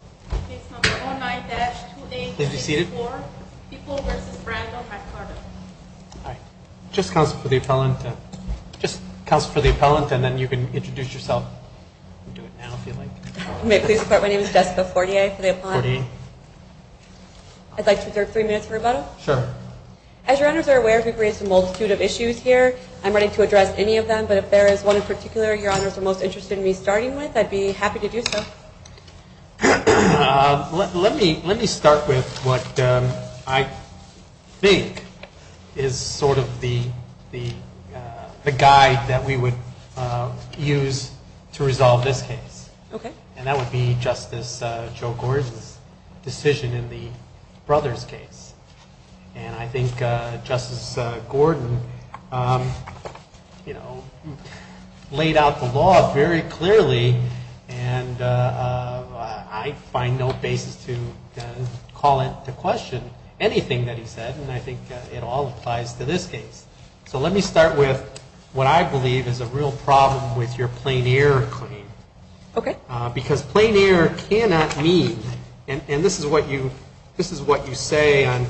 Please report my name is Jessica Fortier for the appellant. I'd like to reserve 3 minutes for rebuttal. As your honors are aware, we've raised a multitude of issues here. I'm ready to address any of them, but if there is one in particular your honors are most interested in me starting with, I'd be happy to do so. Let me start with what I think is sort of the guide that we would use to resolve this case. And that would be Justice Joe Gordon's decision in the Brothers case. And I think Justice Gordon, you know, laid out the law very clearly and I find no basis to call into question anything that he said and I think it all applies to this case. So let me start with what I believe is a real problem with your plain error claim. Okay. Because plain error cannot mean, and this is what you say on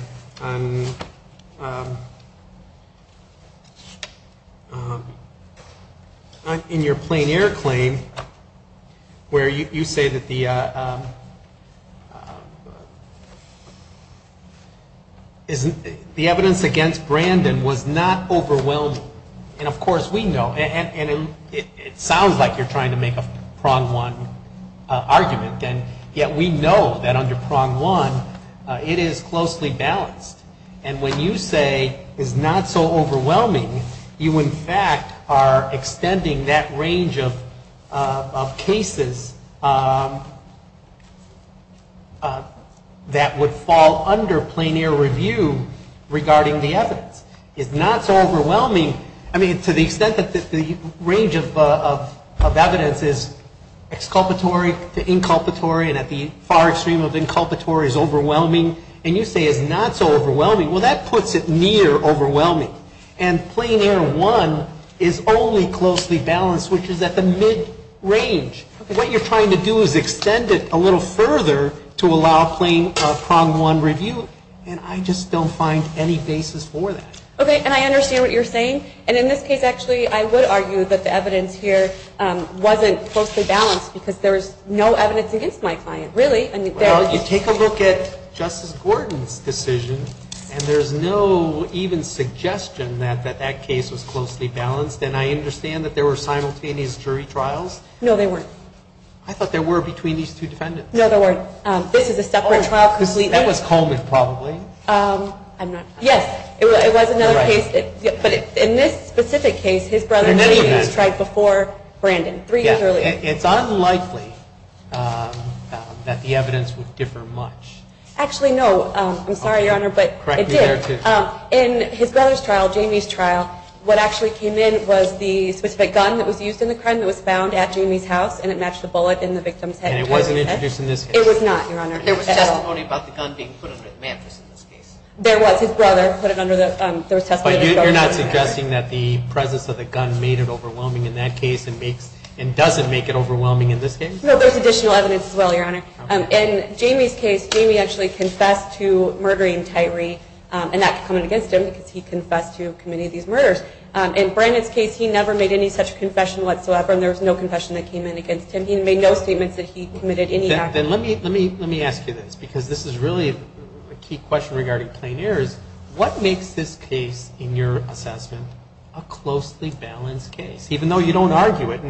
your plain error claim where you say that the evidence against Brandon was not overwhelmed. And of course we know, and it sounds like you're trying to make a prong one argument, and yet we know that under prong one it is closely balanced. And when you say it's not so overwhelming, you in fact are extending that range of cases that would fall under plain error review regarding the evidence. It's not so overwhelming, I mean, to the extent that the range of evidence is exculpatory to inculpatory and at the far extreme of inculpatory is overwhelming. And you say it's not so overwhelming. Well, that puts it near overwhelming. And plain error one is only closely balanced, which is at the mid-range. What you're trying to do is extend it a little further to allow plain prong one review, and I just don't find any basis for that. Okay, and I understand what you're saying. And in this case, actually, I would argue that the evidence here wasn't closely balanced because there was no evidence against my client. Really? Well, you take a look at Justice Gordon's decision, and there's no even suggestion that that case was closely balanced. And I understand that there were simultaneous jury trials? No, there weren't. I thought there were between these two defendants. No, there weren't. This is a separate trial completely. That was Coleman, probably. Yes, it was another case. But in this specific case, his brother Jamie was tried before Brandon, three years earlier. It's unlikely that the evidence would differ much. Actually, no. I'm sorry, Your Honor, but it did. Correct me there, too. In his brother's trial, Jamie's trial, what actually came in was the specific gun that was used in the crime that was found at Jamie's house, and it matched the bullet in the victim's head. And it wasn't introduced in this case? It was not, Your Honor. There was testimony about the gun being put under the mattress in this case. There was. His brother put it under the mattress. But you're not suggesting that the presence of the gun made it overwhelming in that case and doesn't make it overwhelming in this case? No, there's additional evidence as well, Your Honor. In Jamie's case, Jamie actually confessed to murdering Tyree, and that could come in against him because he confessed to committing these murders. In Brandon's case, he never made any such confession whatsoever, and there was no confession that came in against him. He made no statements that he committed any act. Then let me ask you this, because this is really a key question regarding plain errors. What makes this case, in your assessment, a closely balanced case, even though you don't argue it?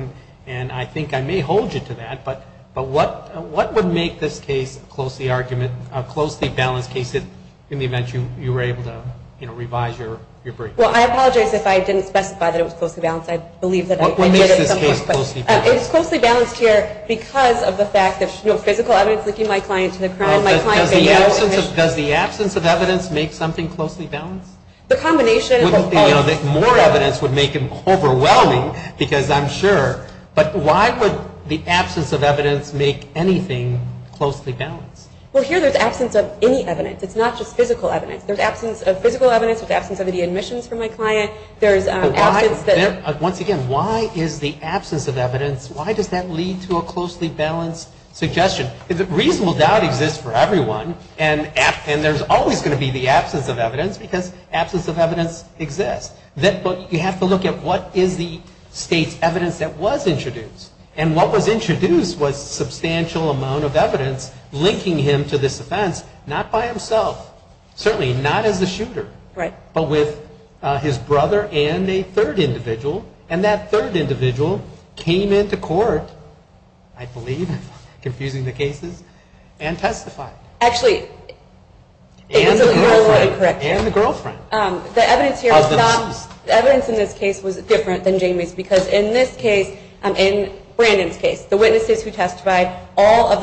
And I think I may hold you to that, but what would make this case a closely balanced case in the event you were able to revise your brief? Well, I apologize if I didn't specify that it was closely balanced. What makes this case closely balanced? It is closely balanced here because of the fact that physical evidence linking my client to the crime. Does the absence of evidence make something closely balanced? The combination of both. More evidence would make it overwhelming, because I'm sure. But why would the absence of evidence make anything closely balanced? Well, here there's absence of any evidence. It's not just physical evidence. There's absence of physical evidence. There's absence of any admissions from my client. Once again, why is the absence of evidence, why does that lead to a closely balanced suggestion? Reasonable doubt exists for everyone. And there's always going to be the absence of evidence, because absence of evidence exists. But you have to look at what is the state's evidence that was introduced. And what was introduced was substantial amount of evidence linking him to this offense, not by himself, certainly not as the shooter. Right. But with his brother and a third individual. And that third individual came into court, I believe, confusing the cases, and testified. Actually, it was a little incorrect. And the girlfriend. The evidence here is not, the evidence in this case was different than Jamie's, because in this case, in Brandon's case, the witnesses who testified, all of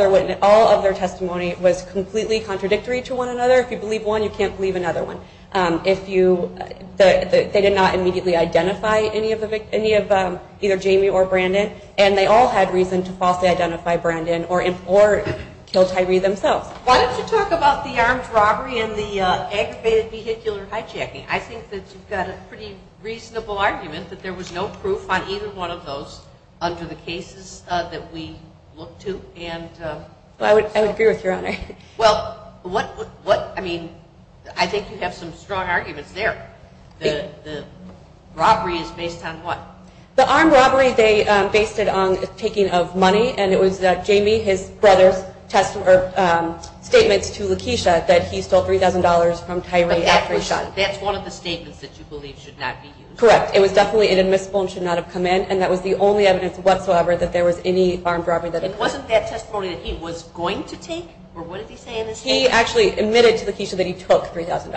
their testimony was completely contradictory to one another. If you believe one, you can't believe another one. They did not immediately identify any of either Jamie or Brandon. And they all had reason to falsely identify Brandon or kill Tyree themselves. Why don't you talk about the armed robbery and the aggravated vehicular hijacking? I think that you've got a pretty reasonable argument that there was no proof on either one of those under the cases that we looked to. I would agree with you, Your Honor. Well, what, I mean, I think you have some strong arguments there. The robbery is based on what? The armed robbery, they based it on the taking of money. And it was Jamie, his brother's statements to Lakeisha that he stole $3,000 from Tyree after he shot him. That's one of the statements that you believe should not be used? Correct. It was definitely inadmissible and should not have come in. And that was the only evidence whatsoever that there was any armed robbery. And it wasn't that testimony that he was going to take? Or what did he say in his statement? He actually admitted to Lakeisha that he took $3,000.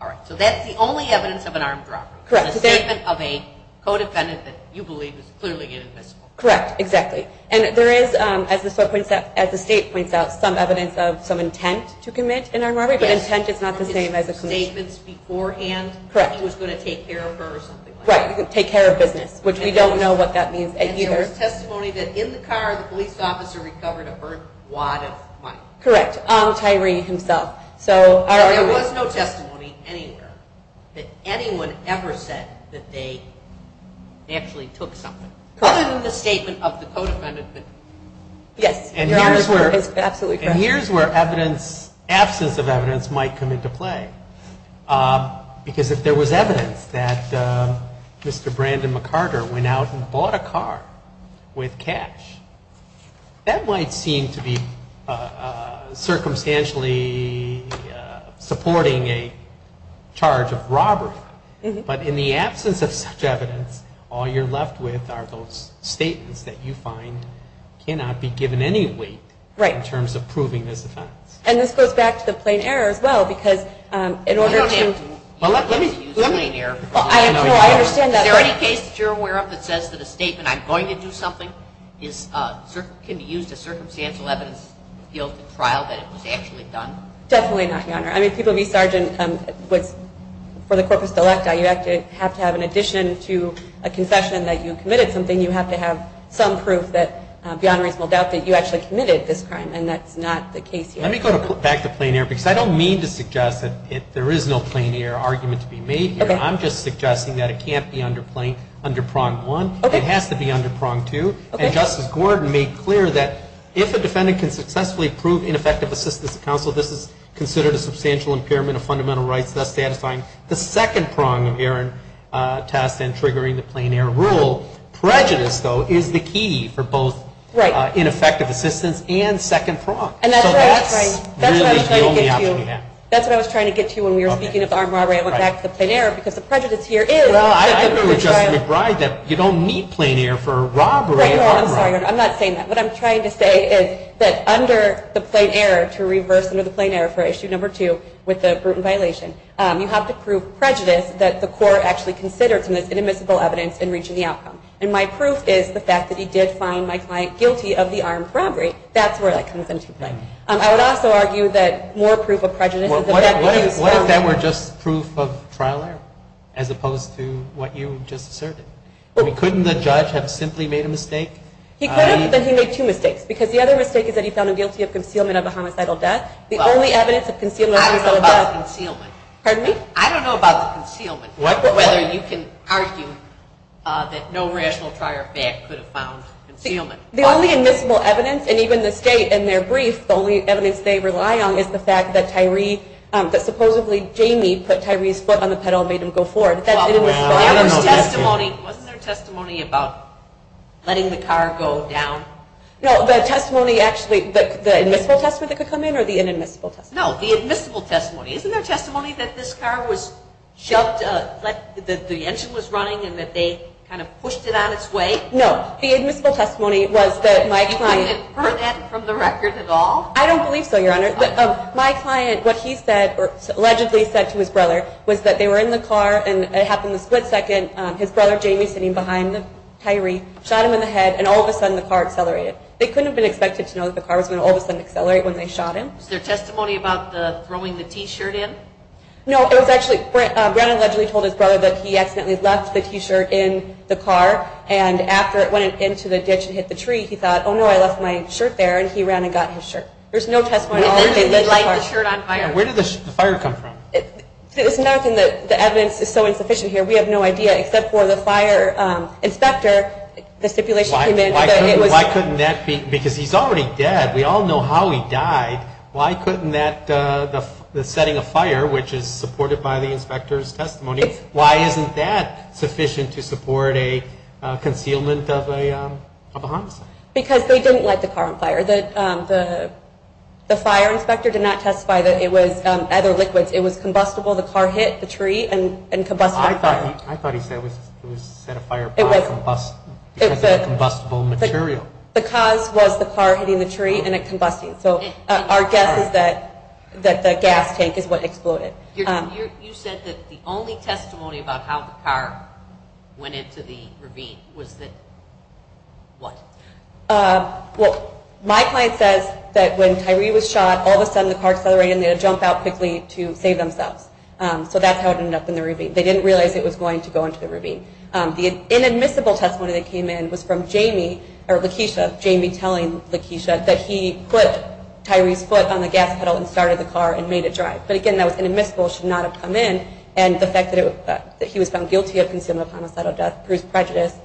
All right. So that's the only evidence of an armed robbery? Correct. A statement of a co-defendant that you believe is clearly inadmissible? Correct. Exactly. And there is, as the State points out, some evidence of some intent to commit an armed robbery. But intent is not the same as a commitment. Yes. From his statements beforehand? Correct. He was going to take care of her or something like that? Right. Take care of business, which we don't know what that means either. And there was testimony that in the car the police officer recovered a burnt wad of money? Correct. Tyree himself. So there was no testimony anywhere that anyone ever said that they actually took something? Correct. Other than the statement of the co-defendant? Yes. Your answer is absolutely correct. And here's where absence of evidence might come into play. Because if there was evidence that Mr. Brandon McCarter went out and bought a car with cash, that might seem to be circumstantially supporting a charge of robbery. But in the absence of such evidence, all you're left with are those statements that you find cannot be given any weight. Right. In terms of proving this offense. And this goes back to the plain error as well, because in order to – I don't have to use the plain error. No, I understand that. Is there any case that you're aware of that says that a statement, I'm going to do something, can be used as circumstantial evidence guilty of a trial that it was actually done? Definitely not, Your Honor. I mean, people of East Sargent, for the corpus delicta, you have to have in addition to a confession that you committed something, you have to have some proof that beyond reasonable doubt that you actually committed this crime. And that's not the case here. Let me go back to plain error, because I don't mean to suggest that there is no plain error argument to be made here. Okay. I'm just suggesting that it can't be under prong one. Okay. It has to be under prong two. Okay. And Justice Gordon made clear that if a defendant can successfully prove ineffective assistance to counsel, this is considered a substantial impairment of fundamental rights, thus satisfying the second prong of Aaron Test and triggering the plain error rule. Prejudice, though, is the key for both ineffective assistance and second prong. And that's right. That's what I was trying to get to. That's what I was trying to get to when we were speaking of armed robbery. I went back to the plain error, because the prejudice here is. Well, I agree with Justice McBride that you don't need plain error for a robbery. Right. No, I'm sorry. I'm not saying that. What I'm trying to say is that under the plain error, to reverse under the plain error for issue number two with the Bruton violation, you have to prove prejudice that the court actually considered some of this inadmissible evidence in reaching the outcome. And my proof is the fact that he did find my client guilty of the armed robbery. That's where that comes into play. I would also argue that more proof of prejudice is. What if that were just proof of trial error as opposed to what you just asserted? Couldn't the judge have simply made a mistake? He could have, but then he made two mistakes, because the other mistake is that he found him guilty of concealment of a homicidal death. The only evidence of concealment of a homicidal death. I don't know about the concealment. Pardon me? I don't know about the concealment. What? Whether you can argue that no rational prior fact could have found concealment. The only admissible evidence, and even the state in their brief, the only evidence they rely on is the fact that Tyree, that supposedly Jamie put Tyree's foot on the pedal and made him go forward. Wasn't there testimony about letting the car go down? No, the testimony actually, the admissible testimony that could come in or the inadmissible testimony? No, the admissible testimony. Isn't there testimony that this car was shoved, that the engine was running, and that they kind of pushed it on its way? No, the admissible testimony was that my client. You haven't heard that from the record at all? I don't believe so, Your Honor. My client, what he said, or allegedly said to his brother, was that they were in the car, and it happened a split second. His brother, Jamie, sitting behind Tyree, shot him in the head, and all of a sudden the car accelerated. They couldn't have been expected to know that the car was going to all of a sudden accelerate when they shot him. Was there testimony about throwing the T-shirt in? No, it was actually, Brennan allegedly told his brother that he accidentally left the T-shirt in the car and after it went into the ditch and hit the tree, he thought, oh, no, I left my shirt there, and he ran and got his shirt. There's no testimony at all. Where did he leave the shirt on fire? Where did the fire come from? There's nothing that the evidence is so insufficient here. We have no idea except for the fire inspector, the stipulation came in. Why couldn't that be? Because he's already dead. We all know how he died. Why couldn't the setting of fire, which is supported by the inspector's testimony, why isn't that sufficient to support a concealment of a homicide? Because they didn't light the car on fire. The fire inspector did not testify that it was other liquids. It was combustible. The car hit the tree and combustible fire. I thought he said it was set afire by combustible material. The cause was the car hitting the tree and it combusting. So our guess is that the gas tank is what exploded. You said that the only testimony about how the car went into the ravine was that what? Well, my client says that when Tyree was shot, all of a sudden the car accelerated and they would jump out quickly to save themselves. So that's how it ended up in the ravine. They didn't realize it was going to go into the ravine. The inadmissible testimony that came in was from Jamie or Lakeisha, Jamie telling Lakeisha that he put Tyree's foot on the gas pedal and started the car and made it drive. But again, that was inadmissible. It should not have come in. And the fact that he was found guilty of concealment of homicidal death proves prejudice.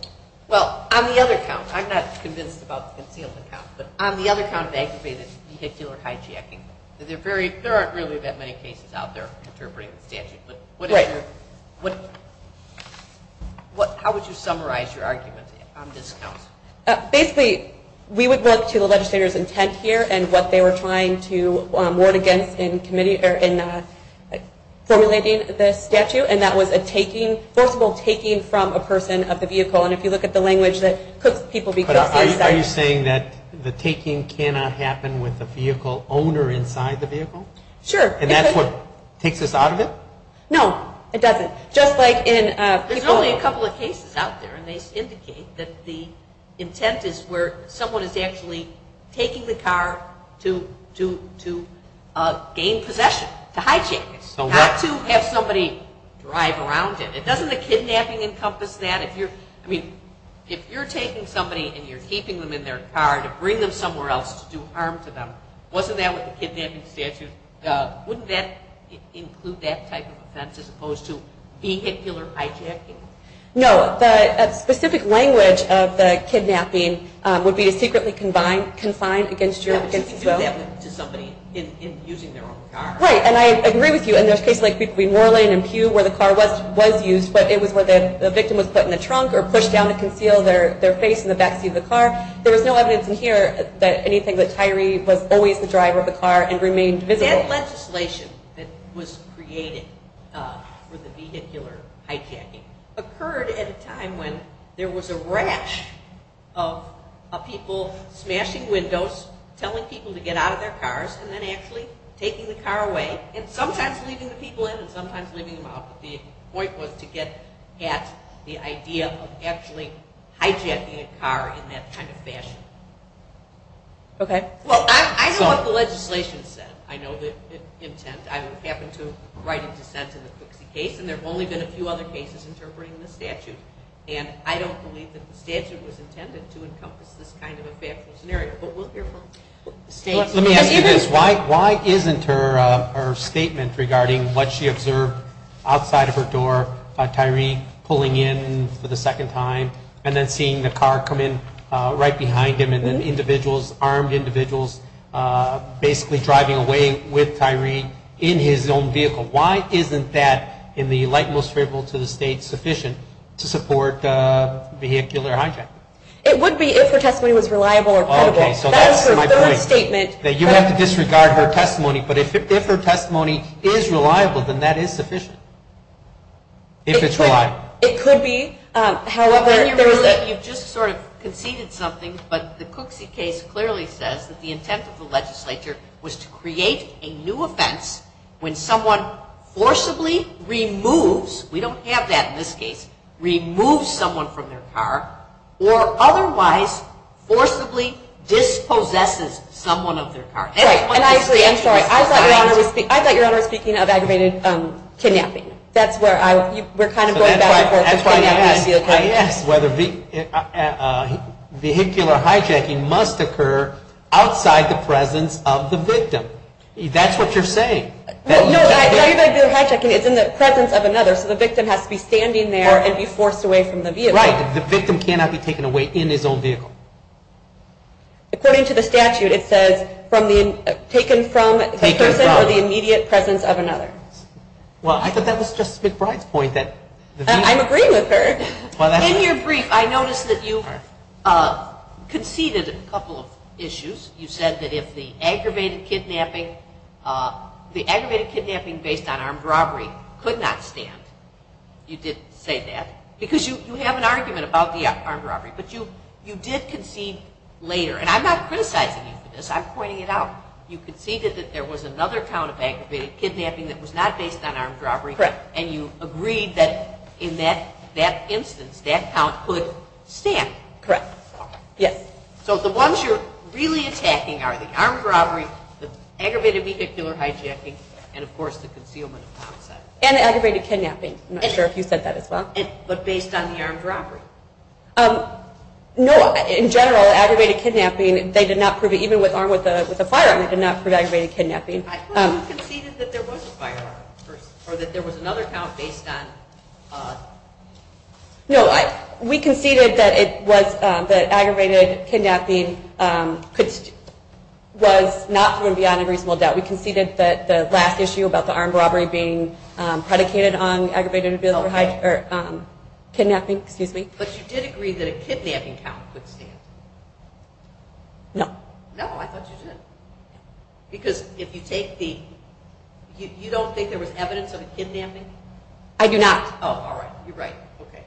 Well, on the other count, I'm not convinced about the concealed account, but on the other count of aggravated vehicular hijacking, there aren't really that many cases out there interpreting the statute. Right. How would you summarize your argument on this account? Basically, we would look to the legislator's intent here and what they were trying to ward against in formulating the statute, and that was a forcible taking from a person of the vehicle. And if you look at the language that cooks people, it cooks them inside. Are you saying that the taking cannot happen with the vehicle owner inside the vehicle? Sure. And that's what takes us out of it? No, it doesn't. There's only a couple of cases out there, and they indicate that the intent is where someone is actually taking the car to gain possession, to hijack it. So what? Not to have somebody drive around it. Doesn't the kidnapping encompass that? I mean, if you're taking somebody and you're keeping them in their car to bring them somewhere else to do harm to them, wasn't that what the kidnapping statute, wouldn't that include that type of offense as opposed to vehicular hijacking? No. The specific language of the kidnapping would be to secretly confine against your will. You can do that to somebody in using their own car. Right, and I agree with you. And there's cases like between Worland and Pew where the car was used, but it was where the victim was put in the trunk or pushed down to conceal their face in the backseat of the car. There was no evidence in here that anything that Tyree was always the driver of the car and remained visible. That legislation that was created for the vehicular hijacking occurred at a time when there was a rash of people smashing windows, telling people to get out of their cars, and then actually taking the car away and sometimes leaving the people in and sometimes leaving them out. But the point was to get at the idea of actually hijacking a car in that kind of fashion. Okay. Well, I know what the legislation said. I know the intent. I happened to write a dissent in the Cooksey case, and there have only been a few other cases interpreting the statute. And I don't believe that the statute was intended to encompass this kind of a factual scenario. But we'll hear from the states. Let me ask you this. Why isn't her statement regarding what she observed outside of her door, Tyree pulling in for the second time, and then seeing the car come in right behind him and then individuals, armed individuals, basically driving away with Tyree in his own vehicle, why isn't that in the light most favorable to the state sufficient to support vehicular hijacking? It would be if her testimony was reliable or credible. Okay, so that's my point. That is her third statement. You have to disregard her testimony. But if her testimony is reliable, then that is sufficient, if it's reliable. It could be. However, you've just sort of conceded something, but the Cooksey case clearly says that the intent of the legislature was to create a new offense when someone forcibly removes, we don't have that in this case, removes someone from their car or otherwise forcibly dispossesses someone of their car. And I agree. I'm sorry. I thought Your Honor was speaking of aggravated kidnapping. We're kind of going back and forth between that and the vehicle. I asked whether vehicular hijacking must occur outside the presence of the victim. That's what you're saying. No, it's not vehicular hijacking. It's in the presence of another. So the victim has to be standing there and be forced away from the vehicle. Right. The victim cannot be taken away in his own vehicle. According to the statute, it says taken from the person or the immediate presence of another. Well, I thought that was Justice McBride's point. I'm agreeing with her. In your brief, I noticed that you conceded a couple of issues. You said that if the aggravated kidnapping based on armed robbery could not stand. You did say that because you have an argument about the armed robbery, but you did concede later. And I'm not criticizing you for this. I'm pointing it out. You conceded that there was another count of aggravated kidnapping that was not based on armed robbery. Correct. And you agreed that in that instance, that count could stand. Correct. Yes. So the ones you're really attacking are the armed robbery, the aggravated vehicular hijacking, and, of course, the concealment of homicide. And the aggravated kidnapping. I'm not sure if you said that as well. But based on the armed robbery. No. In general, aggravated kidnapping, they did not prove it. Even with armed with a firearm, they did not prove aggravated kidnapping. I thought you conceded that there was a firearm or that there was another count based on. No. We conceded that aggravated kidnapping was not proven beyond a reasonable doubt. We conceded that the last issue about the armed robbery being predicated on aggravated vehicular kidnapping. Excuse me. But you did agree that a kidnapping count could stand. No. No, I thought you did. Because if you take the... you don't think there was evidence of a kidnapping? I do not. Oh, all right. You're right. Okay.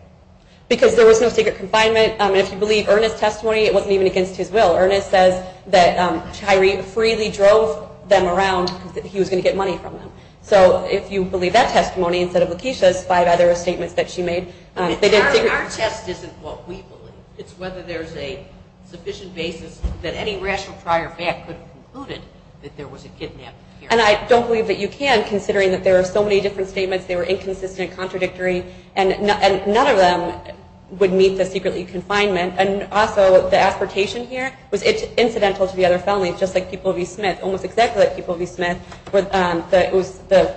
Because there was no secret confinement. If you believe Ernest's testimony, it wasn't even against his will. Ernest says that Tyree freely drove them around because he was going to get money from them. So if you believe that testimony instead of Lakeisha's five other statements that she made... Our test isn't what we believe. It's whether there's a sufficient basis that any rational prior fact could have concluded that there was a kidnapping here. And I don't believe that you can, considering that there are so many different statements. They were inconsistent, contradictory. And none of them would meet the secretly confinement. And also, the aspertation here was incidental to the other felonies, just like people of E. Smith. Almost exactly like people of E. Smith. The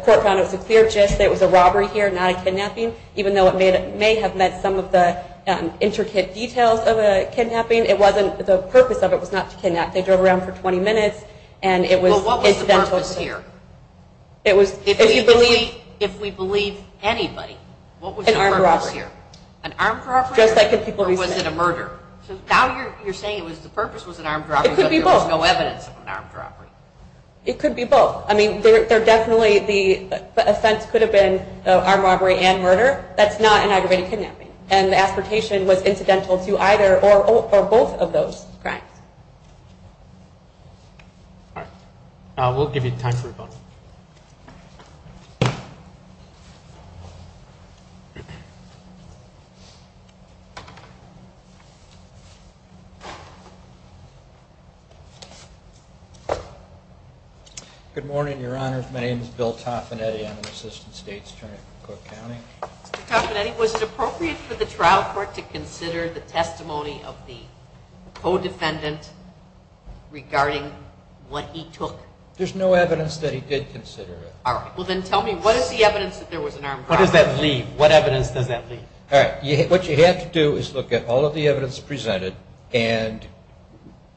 court found it was a clear gist that it was a robbery here, not a kidnapping. Even though it may have met some of the intricate details of a kidnapping, it wasn't... The purpose of it was not to kidnap. They drove around for 20 minutes, and it was... Well, what was the purpose here? It was... If we believe anybody, what was the purpose here? An armed robbery? Just like in people of E. Smith. Or was it a murder? So now you're saying the purpose was an armed robbery. It could be both. But there was no evidence of an armed robbery. It could be both. I mean, definitely the offense could have been an armed robbery and murder. That's not an aggravated kidnapping. And the aspertation was incidental to either or both of those crimes. All right. We'll give you time for a vote. Good morning, Your Honors. My name is Bill Toffanetti. I'm an assistant state attorney for Cook County. Mr. Toffanetti, was it appropriate for the trial court to consider the testimony of the co-defendant regarding what he took? All right. Well, then tell me, what is the evidence that there was an armed robbery? What does that leave? What evidence does that leave? All right. What you have to do is look at all of the evidence presented and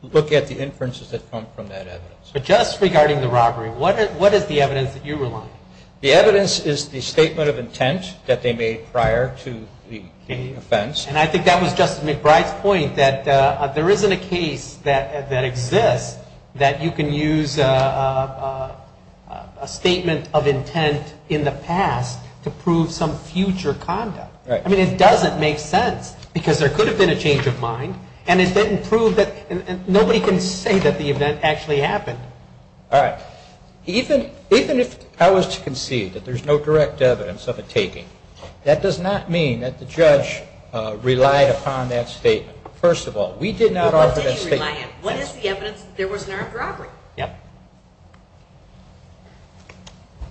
look at the inferences that come from that evidence. But just regarding the robbery, what is the evidence that you rely on? The evidence is the statement of intent that they made prior to the offense. And I think that was Justice McBride's point, that there isn't a case that exists that you can use a statement of intent in the past to prove some future conduct. Right. I mean, it doesn't make sense because there could have been a change of mind, and it didn't prove that. Nobody can say that the event actually happened. All right. Even if I was to concede that there's no direct evidence of a taking, that does not mean that the judge relied upon that statement. First of all, we did not offer that statement. Well, what did he rely on? What is the evidence that there was an armed robbery? Yeah.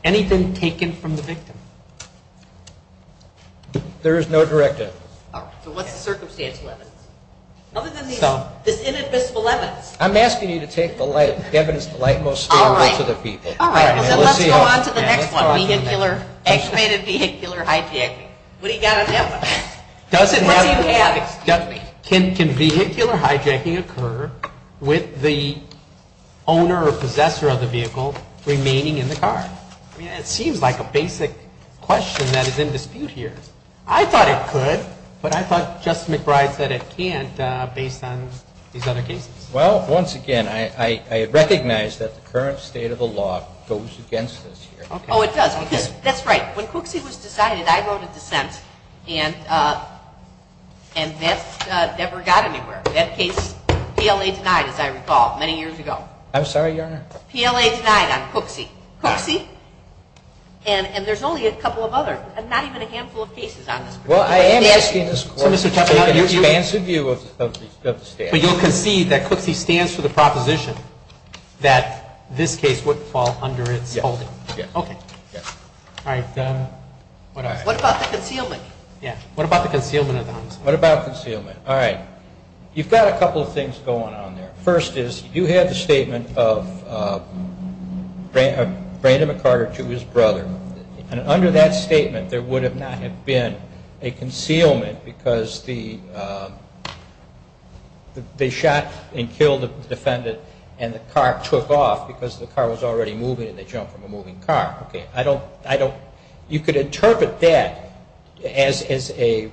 Anything taken from the victim? There is no direct evidence. All right. So what's the circumstantial evidence? Other than this inadmissible evidence. I'm asking you to take the light, the evidence that's the light most favorable to the people. All right. So let's go on to the next one, vehicular, estimated vehicular hijacking. What do you got on that one? Does it have, can vehicular hijacking occur with the owner or possessor of the vehicle remaining in the car? I mean, it seems like a basic question that is in dispute here. I thought it could, but I thought Justice McBride said it can't based on these other cases. Well, once again, I recognize that the current state of the law goes against this here. Oh, it does. That's right. When Cooksey was decided, I wrote a dissent, and that never got anywhere. That case, PLA denied, as I recall, many years ago. I'm sorry, Your Honor. PLA denied on Cooksey. Cooksey, and there's only a couple of others, not even a handful of cases on this particular statute. Well, I am asking this Court to take an expansive view of the statute. But you'll concede that Cooksey stands for the proposition that this case would fall under its holding? Yes. Okay. Yes. All right. What about the concealment? Yeah. What about the concealment of the homicide? What about the concealment? All right. You've got a couple of things going on there. First is, you have the statement of Brandon McCarter to his brother. Under that statement, there would not have been a concealment, because they shot and killed a defendant, and the car took off, because the car was already moving, and they jumped from a moving car. You could interpret that as an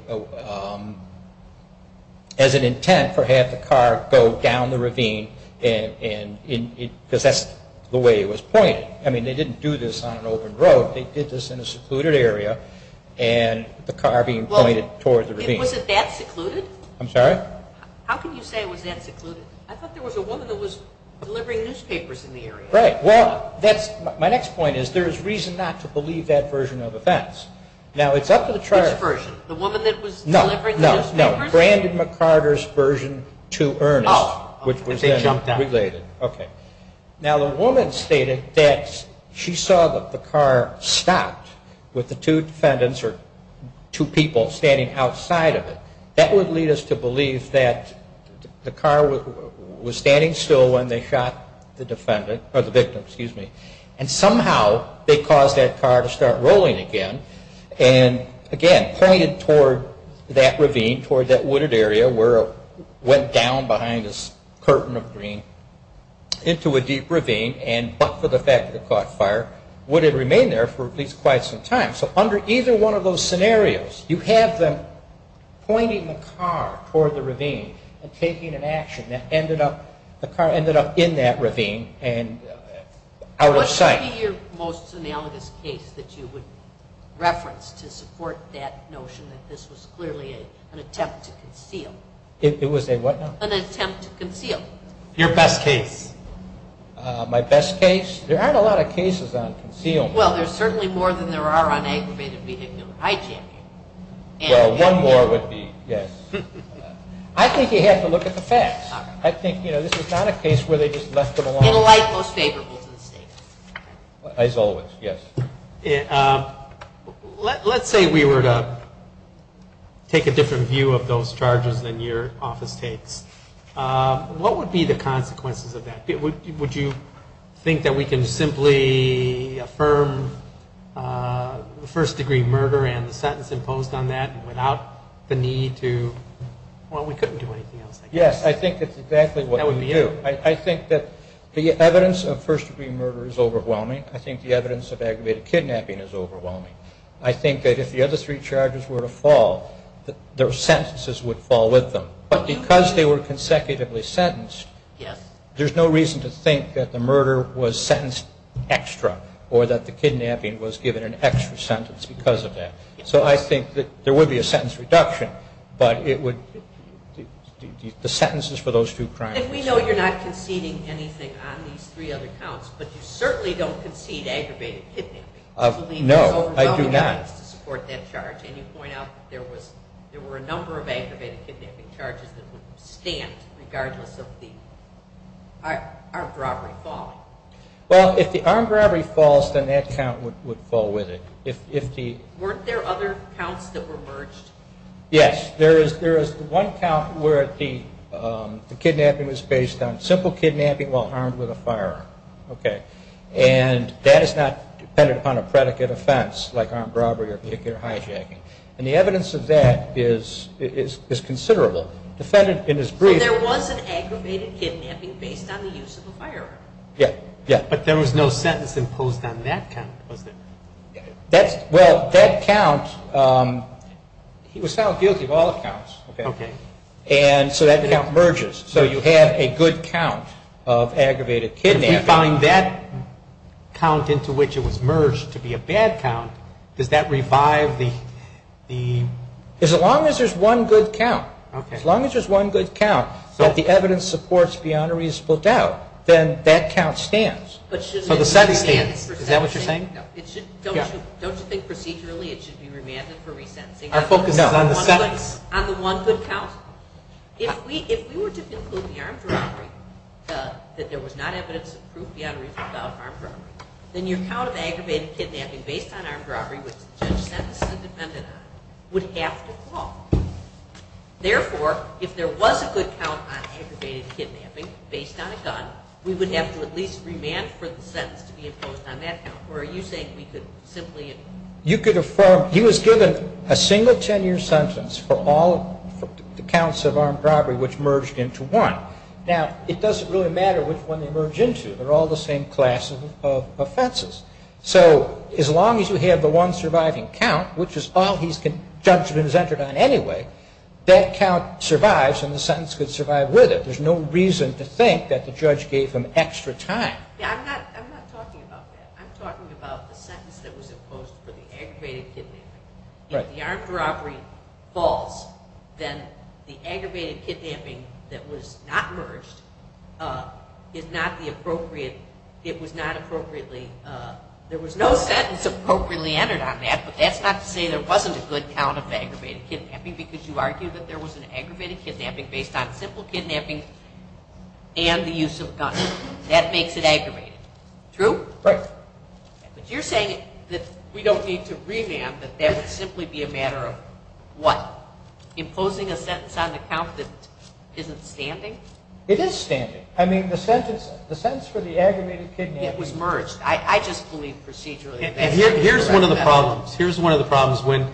intent for having the car go down the ravine, because that's the way it was pointed. I mean, they didn't do this on an open road. They did this in a secluded area, and the car being pointed toward the ravine. Was it that secluded? I'm sorry? How can you say it was that secluded? I thought there was a woman that was delivering newspapers in the area. Right. Well, my next point is, there is reason not to believe that version of events. Now, it's up to the charge. Which version? The woman that was delivering the newspapers? No, no, no. Brandon McCarter's version to Ernest, which was then related. Oh, if they jumped out. Okay. Now, the woman stated that she saw that the car stopped with the two defendants, or two people, standing outside of it. That would lead us to believe that the car was standing still when they shot the defendant, or the victim, excuse me. And somehow, they caused that car to start rolling again, and again, pointed toward that ravine, pointed toward that wooded area where it went down behind this curtain of green into a deep ravine, but for the fact that it caught fire, would have remained there for at least quite some time. So under either one of those scenarios, you have them pointing the car toward the ravine and taking an action. The car ended up in that ravine and out of sight. What would be your most analogous case that you would reference to support that notion that this was clearly an attempt to conceal? It was a what now? An attempt to conceal. Your best case. My best case? There aren't a lot of cases on concealment. Well, there's certainly more than there are on aggravated vehicular hijacking. Well, one more would be, yes. I think you have to look at the facts. I think, you know, this was not a case where they just left them alone. In a light most favorable to the state. As always, yes. Let's say we were to take a different view of those charges than your office takes. What would be the consequences of that? Would you think that we can simply affirm first-degree murder and the sentence imposed on that without the need to? Well, we couldn't do anything else, I guess. Yes, I think that's exactly what we would do. I think that the evidence of first-degree murder is overwhelming. I think the evidence of aggravated kidnapping is overwhelming. I think that if the other three charges were to fall, their sentences would fall with them. But because they were consecutively sentenced, there's no reason to think that the murder was sentenced extra or that the kidnapping was given an extra sentence because of that. So I think that there would be a sentence reduction, but the sentences for those two crimes. And we know you're not conceding anything on these three other counts, but you certainly don't concede aggravated kidnapping. No, I do not. And you point out that there were a number of aggravated kidnapping charges that would stand regardless of the armed robbery falling. Well, if the armed robbery falls, then that count would fall with it. Weren't there other counts that were merged? Yes, there is one count where the kidnapping was based on simple kidnapping while armed with a firearm. And that is not dependent upon a predicate offense like armed robbery or particular hijacking. And the evidence of that is considerable. So there was an aggravated kidnapping based on the use of a firearm? Yes. But there was no sentence imposed on that count, was there? Well, that count, he was found guilty of all counts. And so that count merges. So you have a good count of aggravated kidnapping. If we find that count into which it was merged to be a bad count, does that revive the ---- As long as there's one good count. Okay. As long as there's one good count that the evidence supports beyond a reasonable doubt, then that count stands. But shouldn't it be remanded for resentencing? Is that what you're saying? Don't you think procedurally it should be remanded for resentencing? Our focus is on the sentence. On the one good count? If we were to conclude the armed robbery that there was not evidence of proof beyond a reasonable doubt of armed robbery, then your count of aggravated kidnapping based on armed robbery, which the judge sentenced the defendant on, would have to fall. Therefore, if there was a good count on aggravated kidnapping based on a gun, we would have to at least remand for the sentence to be imposed on that count. Or are you saying we could simply ---- He was given a single 10-year sentence for all the counts of armed robbery, which merged into one. Now, it doesn't really matter which one they merge into. They're all the same class of offenses. So as long as you have the one surviving count, which is all he's been sentenced on anyway, that count survives and the sentence could survive with it. There's no reason to think that the judge gave him extra time. I'm not talking about that. I'm talking about the sentence that was imposed for the aggravated kidnapping. If the armed robbery falls, then the aggravated kidnapping that was not merged is not the appropriate, it was not appropriately, there was no sentence appropriately entered on that, but that's not to say there wasn't a good count of aggravated kidnapping because you argue that there was an aggravated kidnapping based on simple kidnapping and the use of a gun. That makes it aggravated. True? Right. But you're saying that we don't need to revamp, that that would simply be a matter of what? Imposing a sentence on the count that isn't standing? It is standing. I mean, the sentence for the aggravated kidnapping ---- It was merged. I just believe procedurally ---- And here's one of the problems. Here's one of the problems. When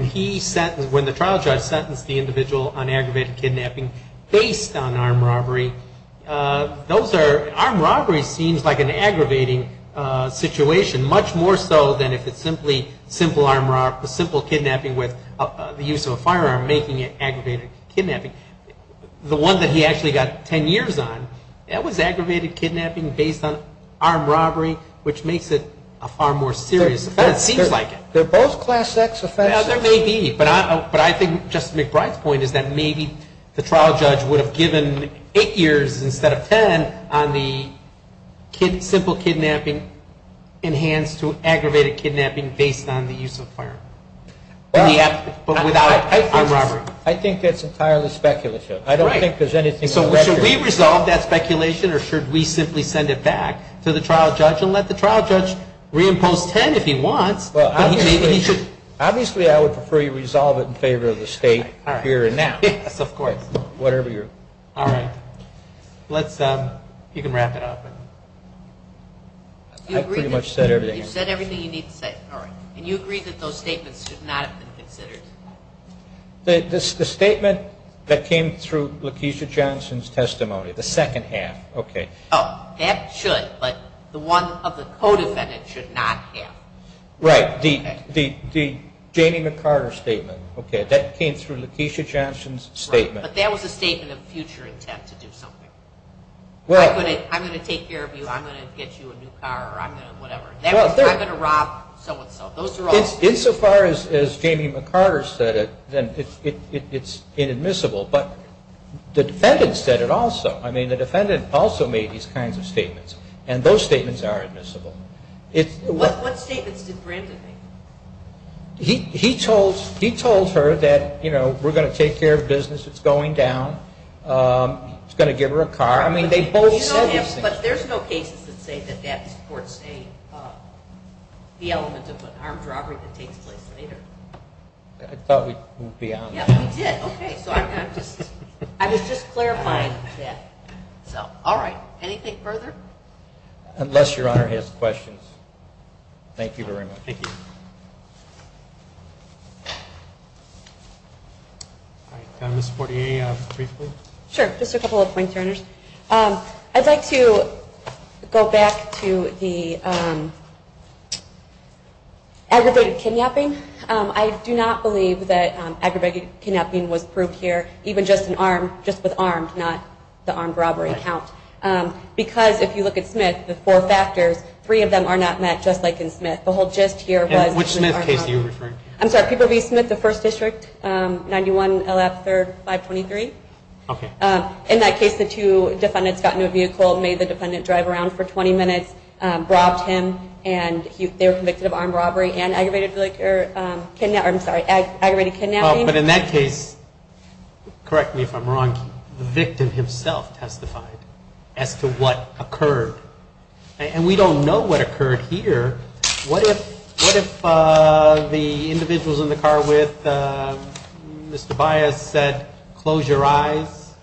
the trial judge sentenced the individual on aggravated kidnapping based on armed robbery, those are, armed robbery seems like an aggravating situation, much more so than if it's simply simple kidnapping with the use of a firearm making it aggravated kidnapping. The one that he actually got 10 years on, that was aggravated kidnapping based on armed robbery, which makes it a far more serious offense, it seems like it. They're both class X offenses. There may be. But I think Justice McBride's point is that maybe the trial judge would have given 8 years instead of 10 on the simple kidnapping enhanced to aggravated kidnapping based on the use of a firearm. But without armed robbery. I think that's entirely speculative. Right. I don't think there's anything on the record. So should we resolve that speculation or should we simply send it back to the trial judge and let the trial judge reimpose 10 if he wants? Obviously I would prefer you resolve it in favor of the state here and now. Yes, of course. Whatever you're. All right. Let's, you can wrap it up. I've pretty much said everything. You've said everything you need to say. All right. And you agree that those statements should not have been considered? The statement that came through Lakeisha Johnson's testimony, the second half. Okay. Oh, that should, but the one of the co-defendant should not have. Right. The Jamie McArthur statement. Okay. That came through Lakeisha Johnson's statement. Right. But that was a statement of future intent to do something. Well. I'm going to take care of you. I'm going to get you a new car or I'm going to whatever. I'm going to rob so-and-so. Those are all. Insofar as Jamie McArthur said it, then it's inadmissible. But the defendant said it also. I mean, the defendant also made these kinds of statements. And those statements are admissible. What statements did Brandon make? He told her that, you know, we're going to take care of business. It's going down. He's going to give her a car. I mean, they both said these things. But there's no cases that say that that supports the element of an armed robbery that takes place later. I thought we'd be on. Yeah, we did. Okay. So I'm not just. I was just clarifying that. So, all right. Anything further? Unless Your Honor has questions. Thank you very much. Thank you. All right. Ms. Fortier, briefly. Sure. Just a couple of points, Your Honors. I'd like to go back to the aggravated kidnapping. I do not believe that aggravated kidnapping was proved here, even just with armed, not the armed robbery count. Because if you look at Smith, the four factors, three of them are not met, just like in Smith. The whole gist here was. Which Smith case are you referring to? I'm sorry. Peabody Smith, the First District, 91 LF 3rd 523. Okay. In that case, the two defendants got into a vehicle, made the defendant drive around for 20 minutes, robbed him, and they were convicted of armed robbery and aggravated kidnapping. But in that case, correct me if I'm wrong, the victim himself testified. As to what occurred. And we don't know what occurred here. What if the individuals in the car with Ms. Tobias said, close your eyes,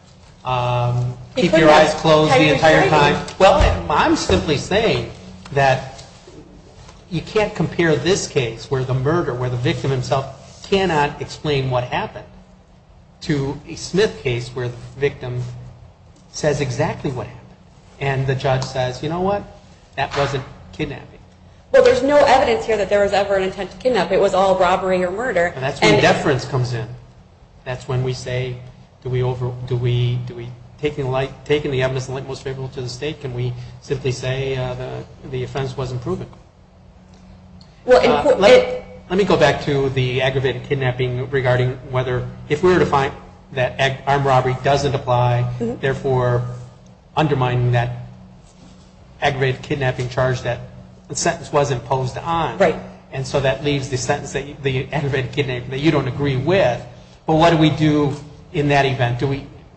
keep your eyes closed the entire time. Well, I'm simply saying that you can't compare this case where the murder, where the victim himself cannot explain what happened, to a Smith case where the victim says exactly what happened. And the judge says, you know what? That wasn't kidnapping. Well, there's no evidence here that there was ever an intent to kidnap. It was all robbery or murder. That's when deference comes in. That's when we say, do we, taking the evidence in light most favorable to the state, can we simply say the offense wasn't proven? Let me go back to the aggravated kidnapping regarding whether, if we were to find that armed robbery doesn't apply, therefore undermining that aggravated kidnapping charge that the sentence wasn't imposed on. Right. And so that leaves the sentence, the aggravated kidnapping, that you don't agree with. But what do we do in that event?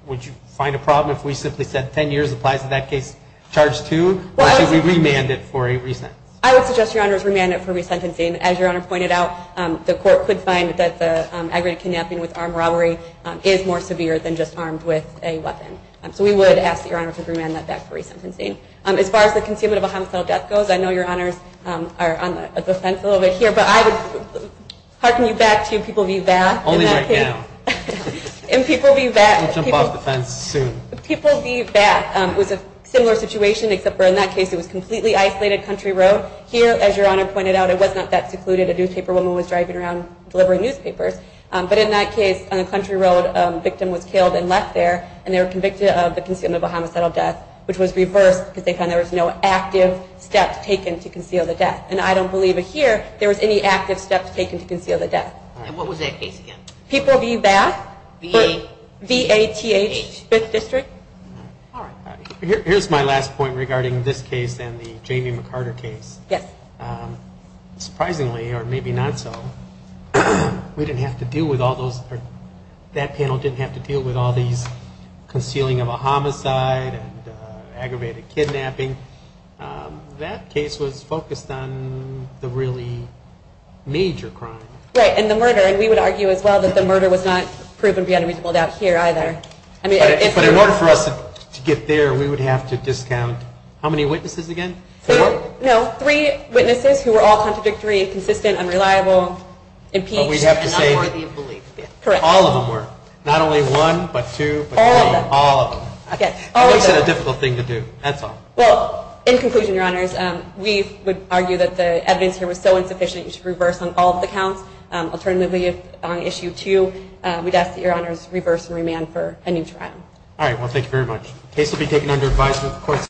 Would you find a problem if we simply said 10 years applies to that case? Charge two? Or should we remand it for a resentence? I would suggest, Your Honors, remand it for resentencing. As Your Honor pointed out, the court could find that the aggravated kidnapping with armed robbery is more severe than just armed with a weapon. So we would ask that Your Honor should remand that back for resentencing. As far as the concealment of a homicidal death goes, I know Your Honors are on the fence a little bit here, but I would hearken you back to People v. Bath. Only right now. In People v. Bath. We'll jump off the fence soon. People v. Bath was a similar situation, except for in that case it was completely isolated country road. Here, as Your Honor pointed out, it was not that secluded. A newspaper woman was driving around delivering newspapers. But in that case, on the country road, a victim was killed and left there, and they were convicted of the concealment of a homicidal death, which was reversed because they found there was no active steps taken to conceal the death. And I don't believe it here. There was any active steps taken to conceal the death. And what was that case again? People v. Bath. V-A-T-H. Fifth District. All right. Here's my last point regarding this case and the Jamie McCarter case. Yes. Surprisingly, or maybe not so, we didn't have to deal with all those, or that panel didn't have to deal with all these concealing of a homicide and aggravated kidnapping. That case was focused on the really major crime. Right, and the murder. And we would argue as well that the murder was not proven beyond a reasonable doubt here either. But in order for us to get there, we would have to discount how many witnesses again? Four? No, three witnesses who were all contradictory, inconsistent, unreliable, impeached, and unworthy of belief. Correct. All of them were. Not only one, but two, but three. All of them. All of them. Okay. It wasn't a difficult thing to do. That's all. Well, in conclusion, Your Honors, we would argue that the evidence here was so insufficient, you should reverse on all of the counts. Alternatively, if on issue two, we'd ask that Your Honors reverse and remand for a new trial. All right. Well, thank you very much. The case will be taken under advisory of the courts.